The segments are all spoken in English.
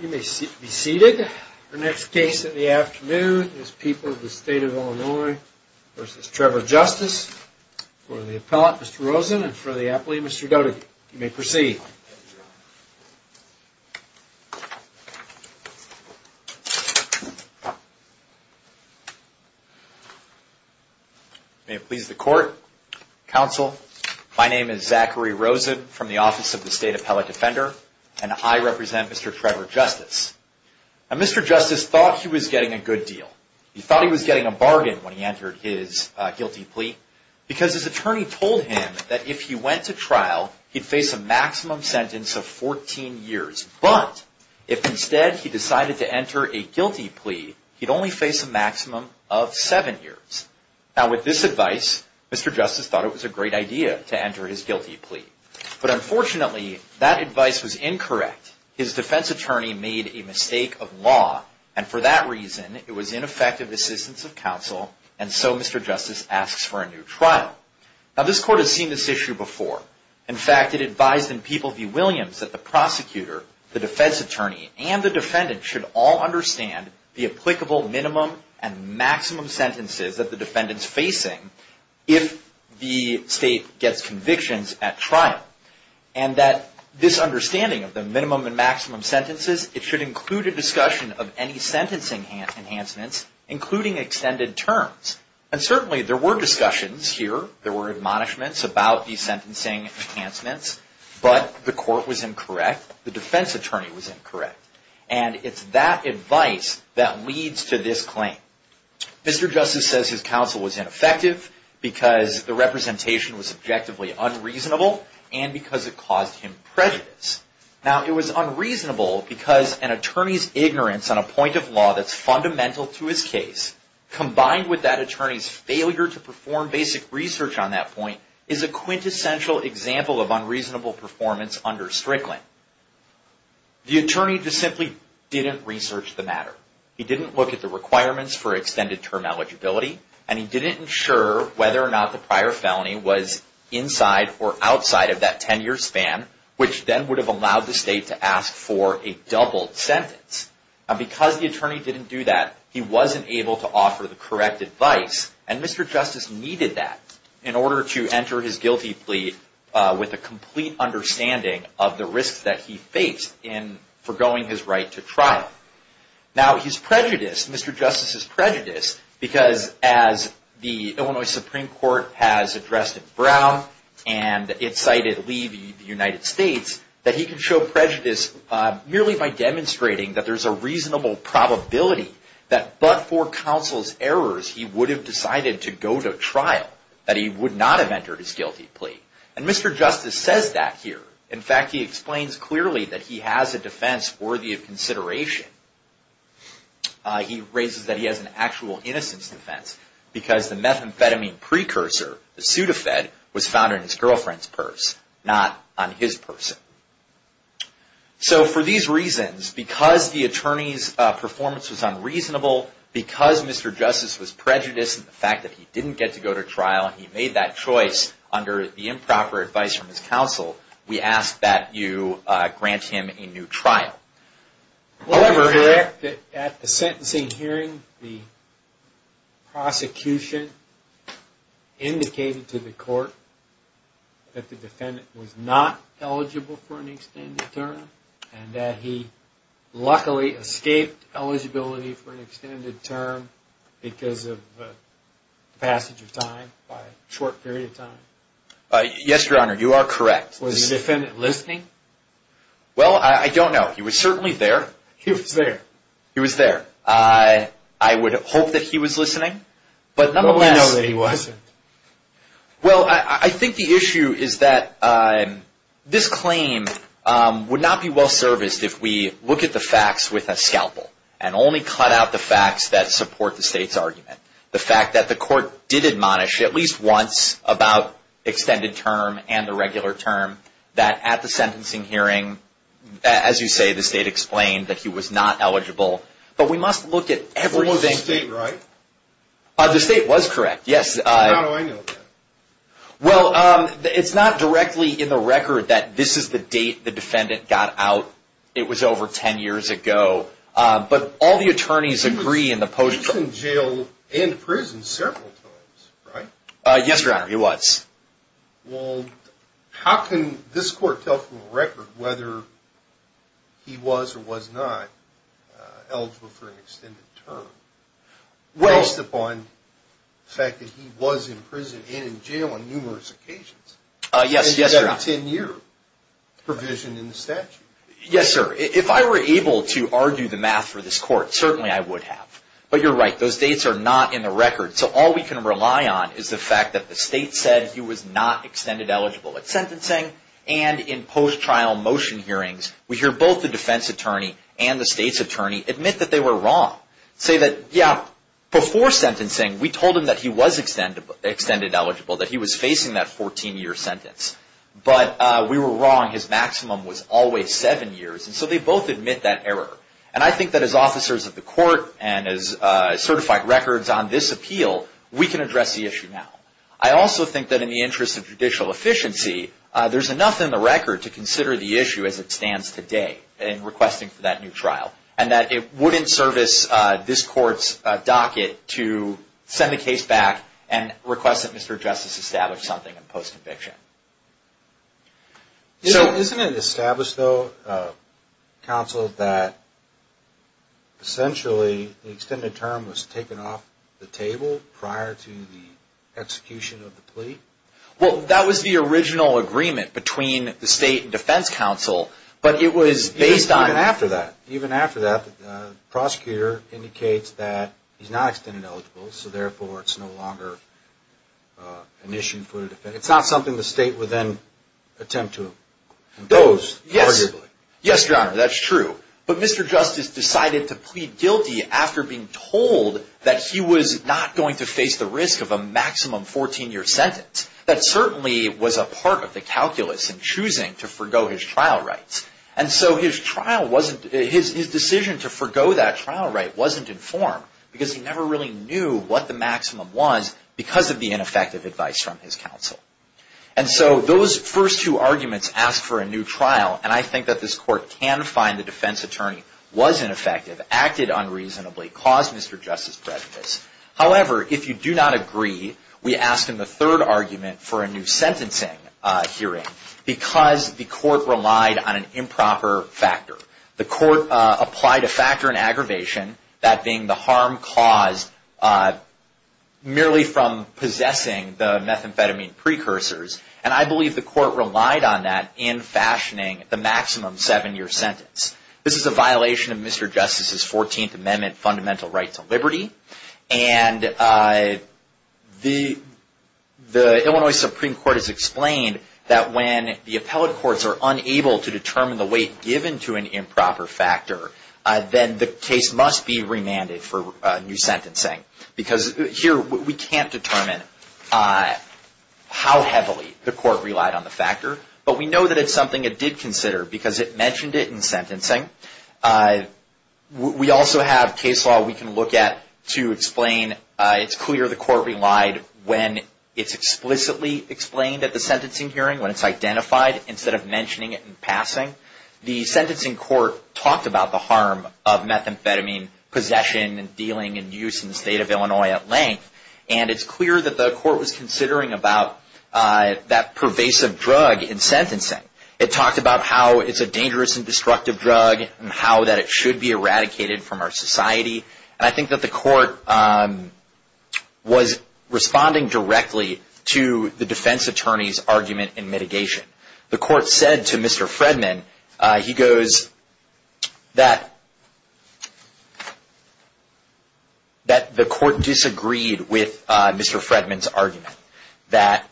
You may be seated. Our next case in the afternoon is People of the State of Illinois v. Trevor Justice for the appellate, Mr. Rosen, and for the appellee, Mr. Doty. You may proceed. May it please the court, counsel, my name is Zachary Rosen from the Office of the State Appellate Defender, and I represent Mr. Trevor Justice. Now, Mr. Justice thought he was getting a good deal. He thought he was getting a bargain when he entered his guilty plea because his attorney told him that if he went to trial, he'd face a maximum sentence of 14 years, but if instead he decided to enter a guilty plea, he'd only face a maximum of 7 years. Now, with this advice, Mr. Justice thought it was a great idea to enter his guilty plea, but unfortunately, that advice was incorrect. His defense attorney made a mistake of law, and for that reason, it was ineffective assistance of counsel, and so Mr. Justice asks for a new trial. Now, this court has seen this issue before. In fact, it advised in People v. Williams that the prosecutor, the defense attorney, and the defendant should all understand the applicable minimum and maximum sentences that the defendant's facing if the state gets convictions at trial, and that this understanding of the minimum and maximum sentences, it should include a discussion of any sentencing enhancements, including extended terms. And certainly, there were discussions here. There were admonishments about the sentencing enhancements, but the court was incorrect. The defense attorney was incorrect, and it's that advice that leads to this claim. Mr. Justice says his counsel was ineffective because the representation was subjectively unreasonable and because it caused him prejudice. Now, it was unreasonable because an attorney's ignorance on a point of law that's fundamental to his case, combined with that attorney's failure to perform basic research on that point, is a quintessential example of unreasonable performance under Strickland. The attorney just simply didn't research the matter. He didn't look at the requirements for extended term eligibility, and he didn't ensure whether or not the prior felony was inside or outside of that 10-year span, which then would have allowed the state to ask for a doubled sentence. Now, because the attorney didn't do that, he wasn't able to offer the correct advice, and Mr. Justice needed that in order to enter his guilty plea with a complete understanding of the risks that he faced in forgoing his right to trial. Now, his prejudice, Mr. Justice's prejudice, because as the Illinois Supreme Court has addressed in Brown, and it cited Levy, the United States, that he can show prejudice merely by demonstrating that there's a reasonable probability that but for counsel's errors, he would have decided to go to trial, that he would not have entered his guilty plea. And Mr. Justice says that here. In fact, he explains clearly that he has a defense worthy of consideration. He raises that he has an actual innocence defense, because the methamphetamine precursor, the Sudafed, was found in his girlfriend's purse, not on his person. So, for these reasons, because the attorney's performance was unreasonable, because Mr. Justice was prejudiced in the fact that he didn't get to go to trial, and he made that choice under the improper advice from his counsel, we ask that you grant him a new trial. Was it correct that at the sentencing hearing, the prosecution indicated to the court that the defendant was not eligible for an extended term, and that he luckily escaped eligibility for an extended term because of the passage of time, by a short period of time? Yes, Your Honor, you are correct. Was the defendant listening? Well, I don't know. He was certainly there. He was there. He was there. I would hope that he was listening. But we know that he wasn't. As you say, the state explained that he was not eligible. But we must look at everything. Was the state right? The state was correct, yes. How do I know that? Well, it's not directly in the record that this is the date the defendant got out. It was over ten years ago. But all the attorneys agree in the post- He was in jail and prison several times, right? Yes, Your Honor, he was. Well, how can this court tell from the record whether he was or was not eligible for an extended term, based upon the fact that he was in prison and in jail on numerous occasions? Yes, Your Honor. Instead of a ten-year provision in the statute. Yes, sir. If I were able to argue the math for this court, certainly I would have. But you're right. Those dates are not in the record. So all we can rely on is the fact that the state said he was not extended eligible at sentencing. And in post-trial motion hearings, we hear both the defense attorney and the state's attorney admit that they were wrong. Say that, yeah, before sentencing, we told him that he was extended eligible, that he was facing that 14-year sentence. But we were wrong. His maximum was always seven years. And so they both admit that error. And I think that as officers of the court and as certified records on this appeal, we can address the issue now. I also think that in the interest of judicial efficiency, there's enough in the record to consider the issue as it stands today in requesting for that new trial. And that it wouldn't service this court's docket to send the case back and request that Mr. Justice establish something in post-conviction. Isn't it established, though, counsel, that essentially the extended term was taken off the table prior to the execution of the plea? Well, that was the original agreement between the state and defense counsel. Even after that, the prosecutor indicates that he's not extended eligible, so therefore it's no longer an issue for the defense. It's not something the state would then attempt to impose, arguably. Yes, Your Honor, that's true. But Mr. Justice decided to plead guilty after being told that he was not going to face the risk of a maximum 14-year sentence. That certainly was a part of the calculus in choosing to forego his trial rights. And so his decision to forego that trial right wasn't informed because he never really knew what the maximum was because of the ineffective advice from his counsel. And so those first two arguments ask for a new trial, and I think that this court can find the defense attorney was ineffective, acted unreasonably, caused Mr. Justice prejudice. However, if you do not agree, we ask in the third argument for a new sentencing hearing because the court relied on an improper factor. The court applied a factor in aggravation, that being the harm caused merely from possessing the methamphetamine precursors, and I believe the court relied on that in fashioning the maximum 7-year sentence. This is a violation of Mr. Justice's 14th Amendment fundamental right to liberty, and the Illinois Supreme Court has explained that when the appellate courts are unable to determine the weight given to an improper factor, then the case must be remanded for new sentencing because here we can't determine how heavily the court relied on the factor, but we know that it's something it did consider because it mentioned it in sentencing. We also have case law we can look at to explain it's clear the court relied when it's explicitly explained at the sentencing hearing, when it's identified, instead of mentioning it in passing. The sentencing court talked about the harm of methamphetamine possession and dealing and use in the state of Illinois at length, and it's clear that the court was considering about that pervasive drug in sentencing. It talked about how it's a dangerous and destructive drug and how that it should be eradicated from our society, and I think that the court was responding directly to the defense attorney's argument in mitigation. The court said to Mr. Fredman, he goes, that the court disagreed with Mr. Fredman's argument that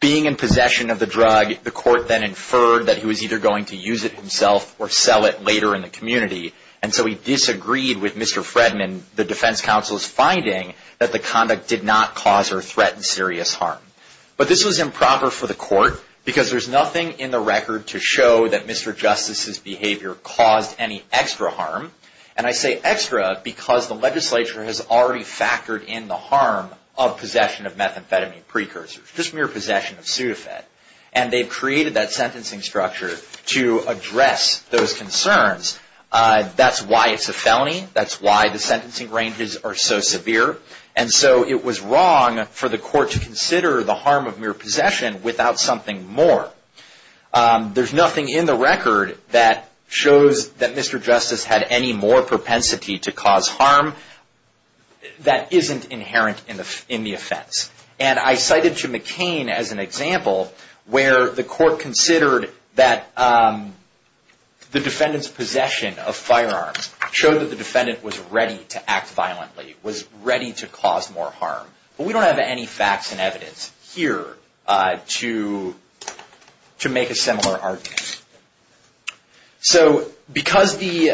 being in possession of the drug, the court then inferred that he was either going to use it himself or sell it later in the community, and so he disagreed with Mr. Fredman, the defense counsel's finding, that the conduct did not cause or threaten serious harm. But this was improper for the court because there's nothing in the record to show that Mr. Justice's behavior caused any extra harm, and I say extra because the legislature has already factored in the harm of possession of methamphetamine precursors, just mere possession of Sudafed, and they've created that sentencing structure to address those concerns. That's why the sentencing ranges are so severe, and so it was wrong for the court to consider the harm of mere possession without something more. There's nothing in the record that shows that Mr. Justice had any more propensity to cause harm that isn't inherent in the offense, and I cited to McCain as an example where the court considered that the defendant's possession of firearms showed that the defendant was ready to act violently, was ready to cause more harm. But we don't have any facts and evidence here to make a similar argument. So because the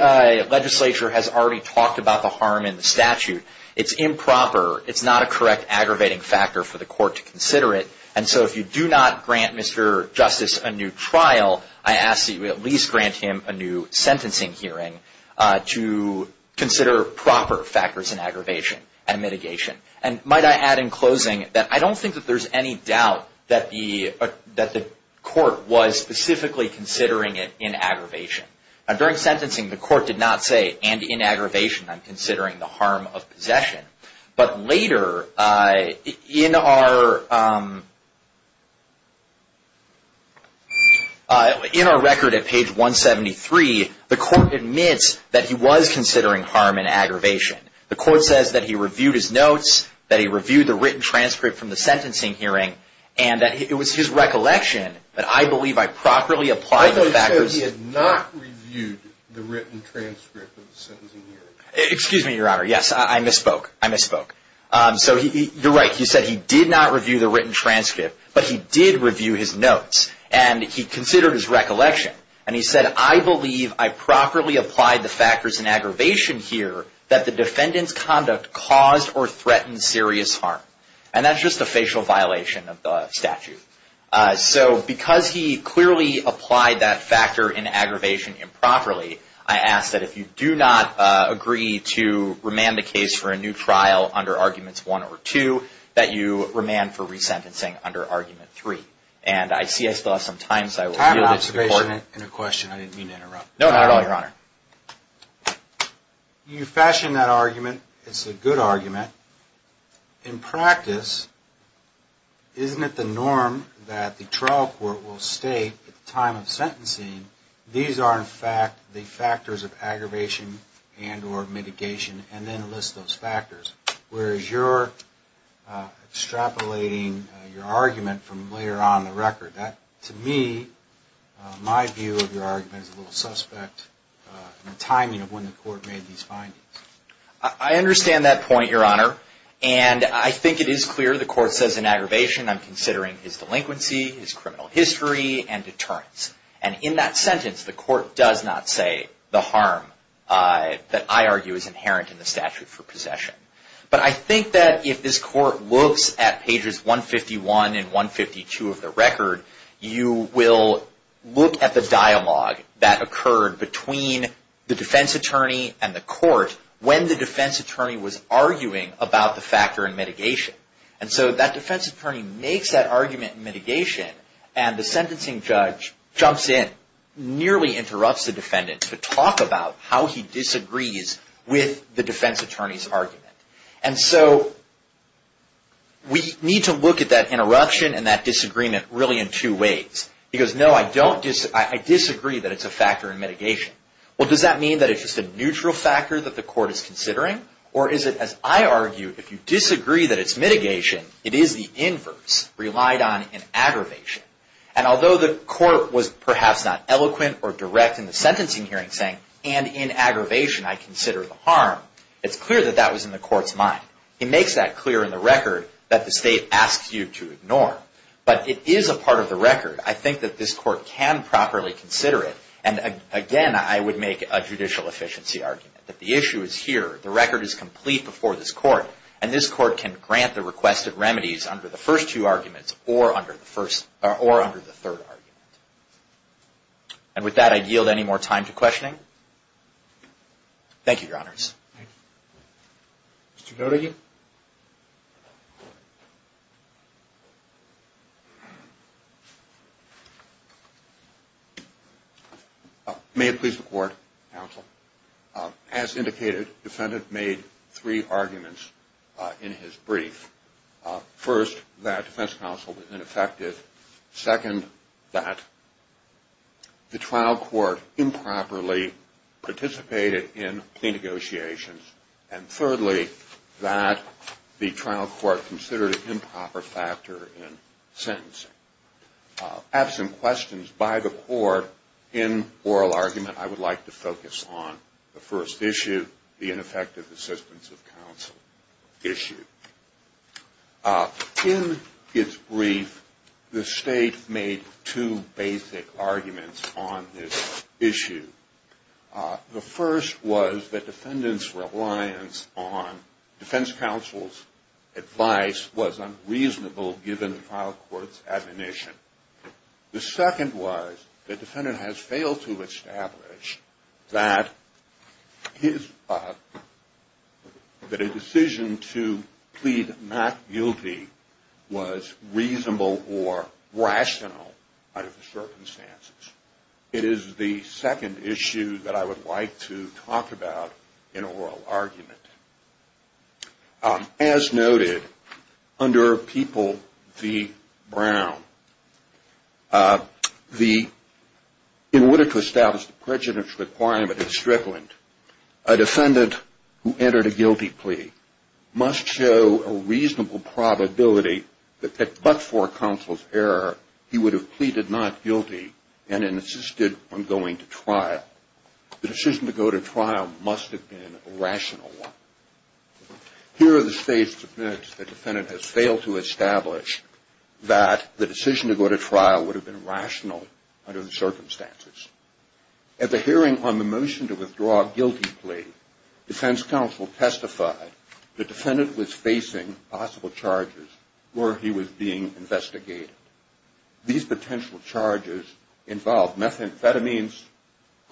legislature has already talked about the harm in the statute, it's improper, it's not a correct aggravating factor for the court to consider it, and so if you do not grant Mr. Justice a new trial, I ask that you at least grant him a new sentencing hearing to consider proper factors in aggravation and mitigation. And might I add in closing that I don't think that there's any doubt that the court was specifically considering it in aggravation. During sentencing, the court did not say, and in aggravation, I'm considering the harm of possession. But later, in our record at page 173, the court admits that he was considering harm in aggravation. The court says that he reviewed his notes, that he reviewed the written transcript from the sentencing hearing, and that it was his recollection that I believe I properly applied the factors. But he had not reviewed the written transcript of the sentencing hearing. Excuse me, Your Honor. Yes, I misspoke. I misspoke. So you're right. He said he did not review the written transcript, but he did review his notes. And he considered his recollection. And he said, I believe I properly applied the factors in aggravation here that the defendant's conduct caused or threatened serious harm. And that's just a facial violation of the statute. So because he clearly applied that factor in aggravation improperly, I ask that if you do not agree to remand the case for a new trial under Arguments 1 or 2, that you remand for resentencing under Argument 3. And I see I still have some time, so I will yield it to the court. Time observation and a question. I didn't mean to interrupt. No, not at all, Your Honor. You fashioned that argument. It's a good argument. In practice, isn't it the norm that the trial court will state at the time of sentencing, these are in fact the factors of aggravation and or mitigation, and then list those factors? Whereas you're extrapolating your argument from later on in the record. To me, my view of your argument is a little suspect in the timing of when the court made these findings. I understand that point, Your Honor. And I think it is clear the court says in aggravation, I'm considering his delinquency, his criminal history, and deterrence. And in that sentence, the court does not say the harm that I argue is inherent in the statute for possession. But I think that if this court looks at pages 151 and 152 of the record, you will look at the dialogue that occurred between the defense attorney and the court when the defense attorney was arguing about the factor in mitigation. And so that defense attorney makes that argument in mitigation, and the sentencing judge jumps in, nearly interrupts the defendant to talk about how he disagrees with the defense attorney's argument. And so we need to look at that interruption and that disagreement really in two ways. He goes, no, I disagree that it's a factor in mitigation. Well, does that mean that it's just a neutral factor that the court is considering? Or is it, as I argue, if you disagree that it's mitigation, it is the inverse relied on in aggravation. And although the court was perhaps not eloquent or direct in the sentencing hearing saying, and in aggravation I consider the harm, it's clear that that was in the court's mind. He makes that clear in the record that the state asks you to ignore. But it is a part of the record. I think that this court can properly consider it. And again, I would make a judicial efficiency argument that the issue is here. The record is complete before this court, and this court can grant the requested remedies under the first two arguments or under the third argument. And with that, I yield any more time to questioning. Thank you, Your Honors. Thank you. Mr. Godegan. May it please the Court, Counsel. As indicated, the defendant made three arguments in his brief. First, that defense counsel was ineffective. Second, that the trial court improperly participated in the negotiations. And thirdly, that the trial court considered an improper factor in sentencing. Absent questions by the court in oral argument, I would like to focus on the first issue, the ineffective assistance of counsel issue. In its brief, the state made two basic arguments on this issue. The first was that defendant's reliance on defense counsel's advice was unreasonable given the trial court's admonition. The second was that defendant has failed to establish that a decision to plead not guilty was reasonable or rational out of the circumstances. It is the second issue that I would like to talk about in oral argument. As noted, under People v. Brown, in order to establish the prejudice requirement in Strickland, a defendant who entered a guilty plea must show a reasonable probability that but for counsel's error, he would have pleaded not guilty and insisted on going to trial. The decision to go to trial must have been a rational one. Here, the state submits the defendant has failed to establish that the decision to go to trial would have been rational under the circumstances. At the hearing on the motion to withdraw a guilty plea, defense counsel testified the defendant was facing possible charges where he was being investigated. These potential charges involved methamphetamines,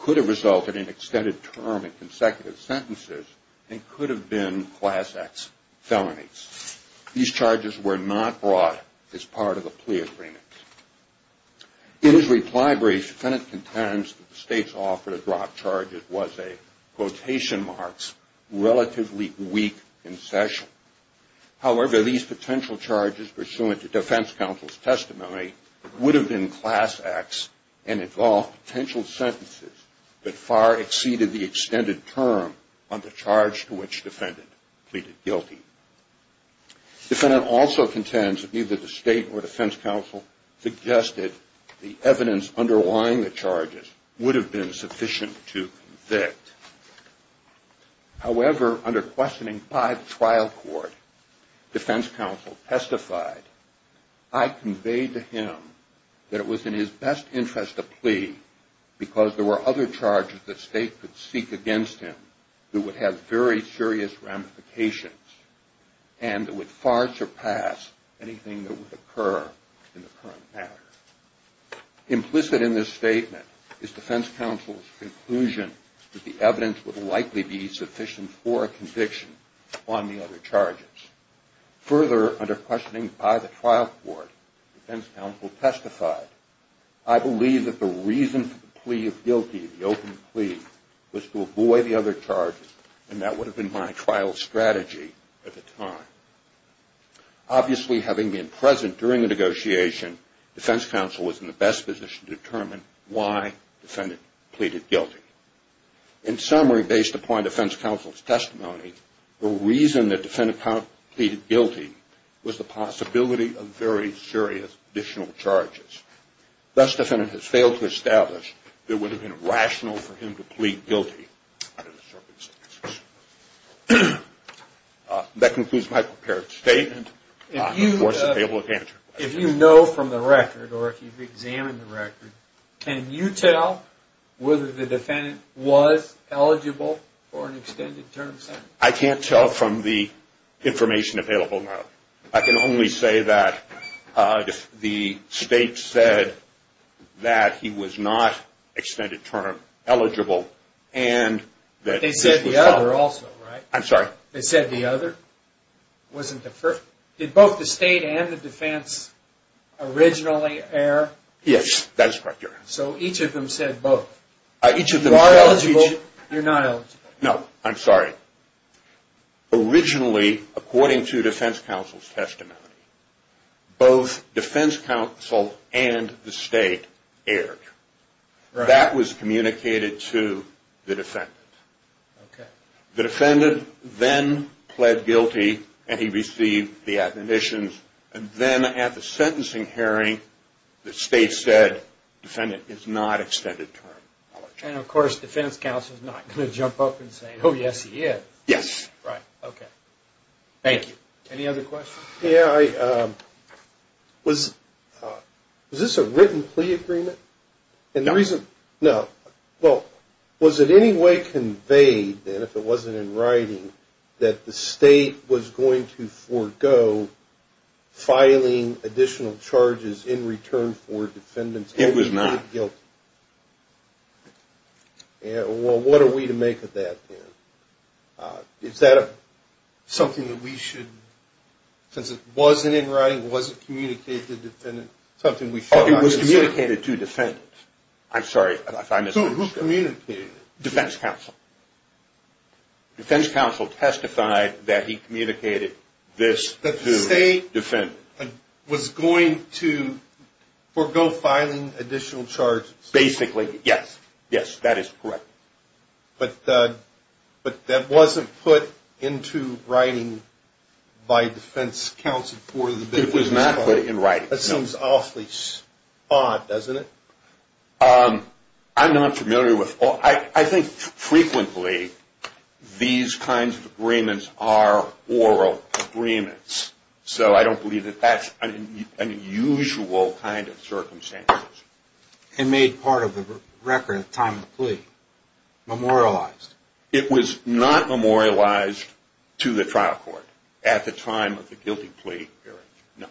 could have resulted in extended term and consecutive sentences, and could have been class X felonies. These charges were not brought as part of the plea agreement. In his reply brief, the defendant contends that the state's offer to drop charges was a quotation marks, relatively weak in session. However, these potential charges pursuant to defense counsel's testimony would have been class X and involved potential sentences that far exceeded the extended term on the charge to which defendant pleaded guilty. Defendant also contends that neither the state or defense counsel suggested the evidence underlying the charges would have been sufficient to convict. However, under questioning five trial court, defense counsel testified, I conveyed to him that it was in his best interest to plea because there were other charges that state could seek against him that would have very serious ramifications and would far surpass anything that would occur in the current matter. Implicit in this statement is defense counsel's conclusion that the evidence would likely be sufficient for a conviction on the other charges. Further, under questioning by the trial court, defense counsel testified, I believe that the reason for the plea of guilty, the open plea, was to avoid the other charges and that would have been my trial strategy at the time. Obviously, having been present during the negotiation, defense counsel was in the best position to determine why defendant pleaded guilty. In summary, based upon defense counsel's testimony, the reason that defendant pleaded guilty was the possibility of very serious additional charges. Thus, defendant has failed to establish that it would have been rational for him to plead guilty under the circumstances. That concludes my prepared statement. If you know from the record, or if you've examined the record, can you tell whether the defendant was eligible for an extended term sentence? I can't tell from the information available now. I can only say that if the state said that he was not extended term eligible and that this was possible, they said the other? Did both the state and the defense originally err? Yes, that is correct. So each of them said both? You are eligible, you're not eligible. No, I'm sorry. Originally, according to defense counsel's testimony, both defense counsel and the state erred. That was communicated to the defendant. The defendant then pled guilty, and he received the admonitions. And then at the sentencing hearing, the state said, defendant is not extended term. And of course, defense counsel is not going to jump up and say, oh, yes, he is. Yes. Right, okay. Thank you. Any other questions? Yeah, was this a written plea agreement? No. No. Well, was it any way conveyed then, if it wasn't in writing, that the state was going to forego filing additional charges in return for defendants being pleaded guilty? It was not. Well, what are we to make of that then? Is that something that we should, since it wasn't in writing, wasn't communicated to the defendant, something we should not assume? It was communicated to defendants. I'm sorry if I missed that. Who communicated it? Defense counsel. Defense counsel testified that he communicated this to defendants. That the state was going to forego filing additional charges. Basically, yes. Yes, that is correct. But that wasn't put into writing by defense counsel for the defendants. It was not put in writing, no. That seems awfully odd, doesn't it? I'm not familiar with all. I think frequently these kinds of agreements are oral agreements, so I don't believe that that's an unusual kind of circumstance. It made part of the record at the time of the plea, memorialized. It was not memorialized to the trial court at the time of the guilty plea hearing, no.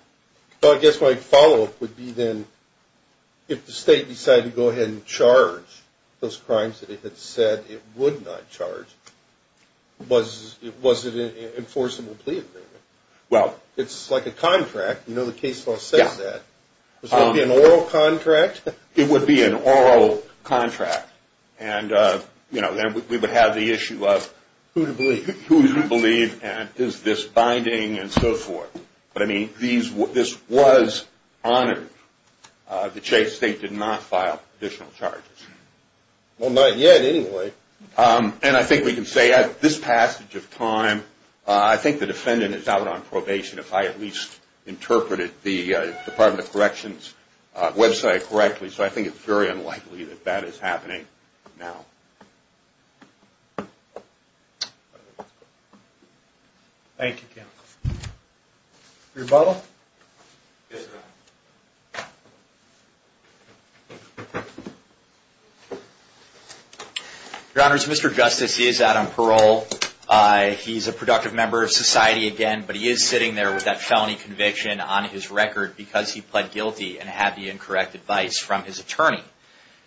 Well, I guess my follow-up would be then, if the state decided to go ahead and charge those crimes that it had said it would not charge, was it an enforceable plea agreement? Well. It's like a contract. You know the case law says that. Would that be an oral contract? It would be an oral contract, and, you know, then we would have the issue of who to believe and is this binding and so forth. But, I mean, this was honored. The state did not file additional charges. Well, not yet anyway. And I think we can say at this passage of time, I think the defendant is out on probation, if I at least interpreted the Department of Corrections website correctly, so I think it's very unlikely that that is happening now. Thank you, counsel. Rebuttal? Yes, Your Honor. Your Honors, Mr. Justice, he is out on parole. He's a productive member of society again, but he is sitting there with that felony conviction on his record because he pled guilty and had the incorrect advice from his attorney.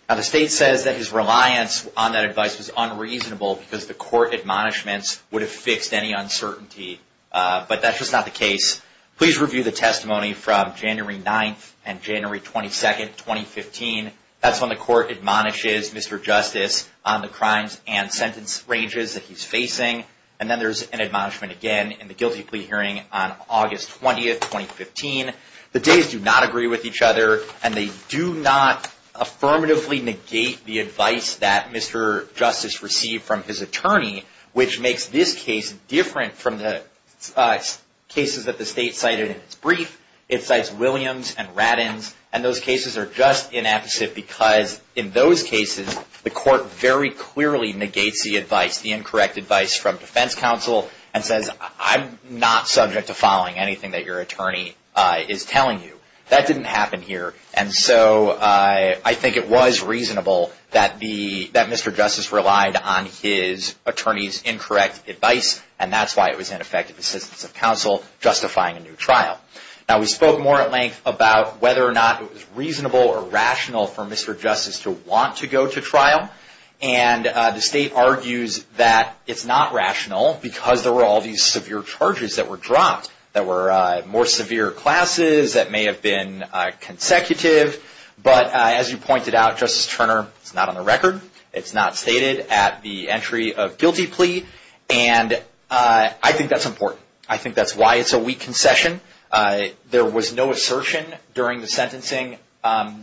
Now, the state says that his reliance on that advice was unreasonable because the court admonishments would have fixed any uncertainty, but that's just not the case. Please review the testimony from January 9th and January 22nd, 2015. That's when the court admonishes Mr. Justice on the crimes and sentence ranges that he's facing. And then there's an admonishment again in the guilty plea hearing on August 20th, 2015. The days do not agree with each other, and they do not affirmatively negate the advice that Mr. Justice received from his attorney, which makes this case different from the cases that the state cited in its brief. It cites Williams and Raddins, and those cases are just inept because in those cases the court very clearly negates the advice, the incorrect advice from defense counsel and says, I'm not subject to following anything that your attorney is telling you. That didn't happen here, and so I think it was reasonable that Mr. Justice relied on his attorney's incorrect advice, and that's why it was ineffective assistance of counsel justifying a new trial. Now we spoke more at length about whether or not it was reasonable or rational for Mr. Justice to want to go to trial, and the state argues that it's not rational because there were all these severe charges that were dropped. There were more severe classes that may have been consecutive, but as you pointed out, Justice Turner, it's not on the record. It's not stated at the entry of guilty plea, and I think that's important. I think that's why it's a weak concession. There was no assertion during the sentencing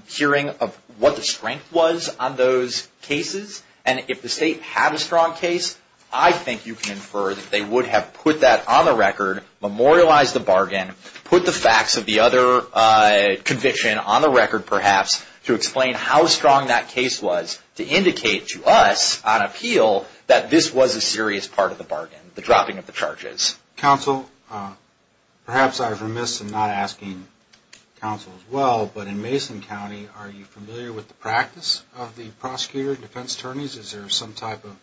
hearing of what the strength was on those cases, and if the state had a strong case, I think you can infer that they would have put that on the record, memorialized the bargain, put the facts of the other conviction on the record perhaps to explain how strong that case was to indicate to us on appeal that this was a serious part of the bargain, the dropping of the charges. Counsel, perhaps I've remiss in not asking counsel as well, but in Mason County, are you familiar with the practice of the prosecutor and defense attorneys? Is there some type of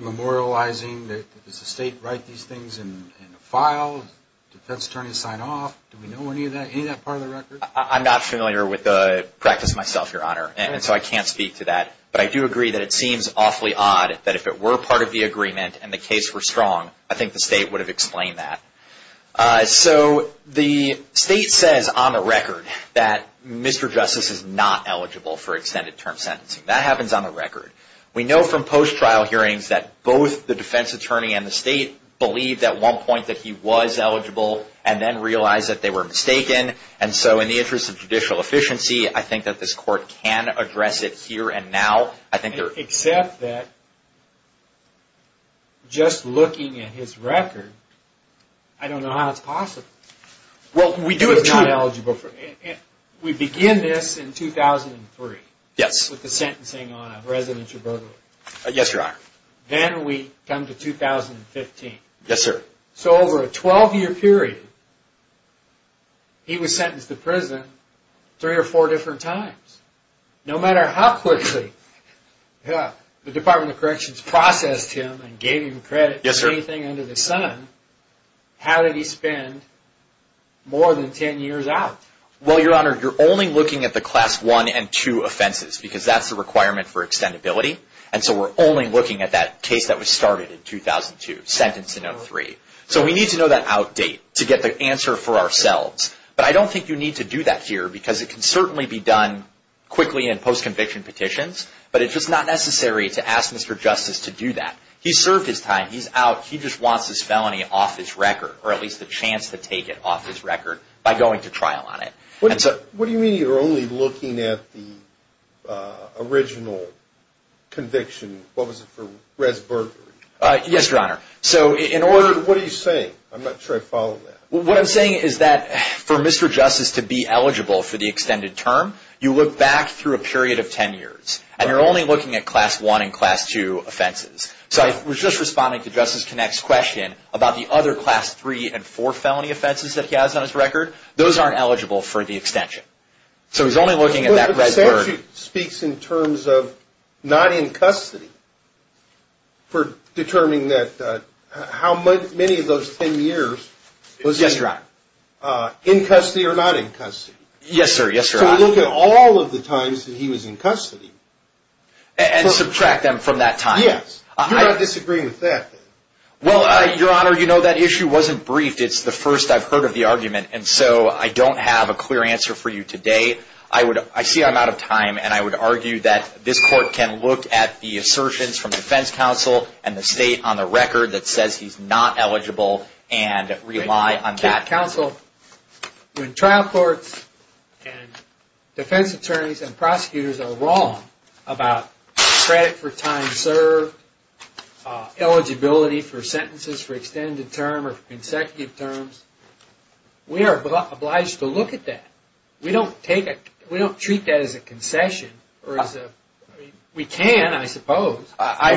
memorializing? Does the state write these things in a file? Do defense attorneys sign off? Do we know any of that, any of that part of the record? I'm not familiar with the practice myself, Your Honor, and so I can't speak to that, but I do agree that it seems awfully odd that if it were part of the agreement and the case were strong, I think the state would have explained that. So the state says on the record that Mr. Justice is not eligible for extended term sentencing. That happens on the record. We know from post-trial hearings that both the defense attorney and the state believed at one point that he was eligible and then realized that they were mistaken, and so in the interest of judicial efficiency, I think that this court can address it here and now. Except that just looking at his record, I don't know how it's possible. Well, we do have two. We begin this in 2003. Yes. With the sentencing on a residential burglary. Yes, Your Honor. Then we come to 2015. Yes, sir. So over a 12-year period, he was sentenced to prison three or four different times. No matter how quickly the Department of Corrections processed him and gave him credit for anything under the sun, how did he spend more than 10 years out? Well, Your Honor, you're only looking at the Class I and II offenses because that's the requirement for extendability, and so we're only looking at that case that was started in 2002, sentenced in 2003. So we need to know that outdate to get the answer for ourselves, but I don't think you need to do that here because it can certainly be done quickly in post-conviction petitions, but it's just not necessary to ask Mr. Justice to do that. He served his time. He's out. He just wants this felony off his record, or at least the chance to take it off his record by going to trial on it. What do you mean you're only looking at the original conviction? What was it for res burglary? Yes, Your Honor. What are you saying? I'm not sure I follow that. What I'm saying is that for Mr. Justice to be eligible for the extended term, you look back through a period of 10 years, and you're only looking at Class I and Class II offenses. So I was just responding to Justice Connacht's question about the other Class III and IV felony offenses that he has on his record. Those aren't eligible for the extension. So he's only looking at that res burglary. But the statute speaks in terms of not in custody for determining how many of those 10 years was in custody or not in custody. Yes, sir. Yes, Your Honor. So look at all of the times that he was in custody. And subtract them from that time. Yes. You're not disagreeing with that, then? Well, Your Honor, you know that issue wasn't briefed. It's the first I've heard of the argument. And so I don't have a clear answer for you today. I see I'm out of time. And I would argue that this Court can look at the assertions from Defense Counsel and the State on the record that says he's not eligible and rely on that. Counsel, when trial courts and defense attorneys and prosecutors are wrong about credit for time served, eligibility for sentences for extended term or consecutive terms, we are obliged to look at that. We don't treat that as a concession. We can, I suppose. I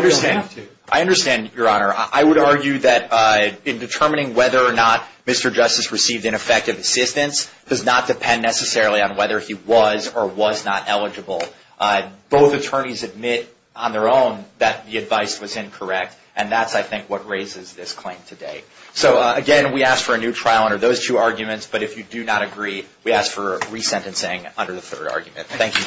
understand, Your Honor. I would argue that in determining whether or not Mr. Justice received ineffective assistance does not depend necessarily on whether he was or was not eligible. Both attorneys admit on their own that the advice was incorrect. And that's, I think, what raises this claim today. So, again, we ask for a new trial under those two arguments. But if you do not agree, we ask for resentencing under the third argument. Thank you, Your Honors.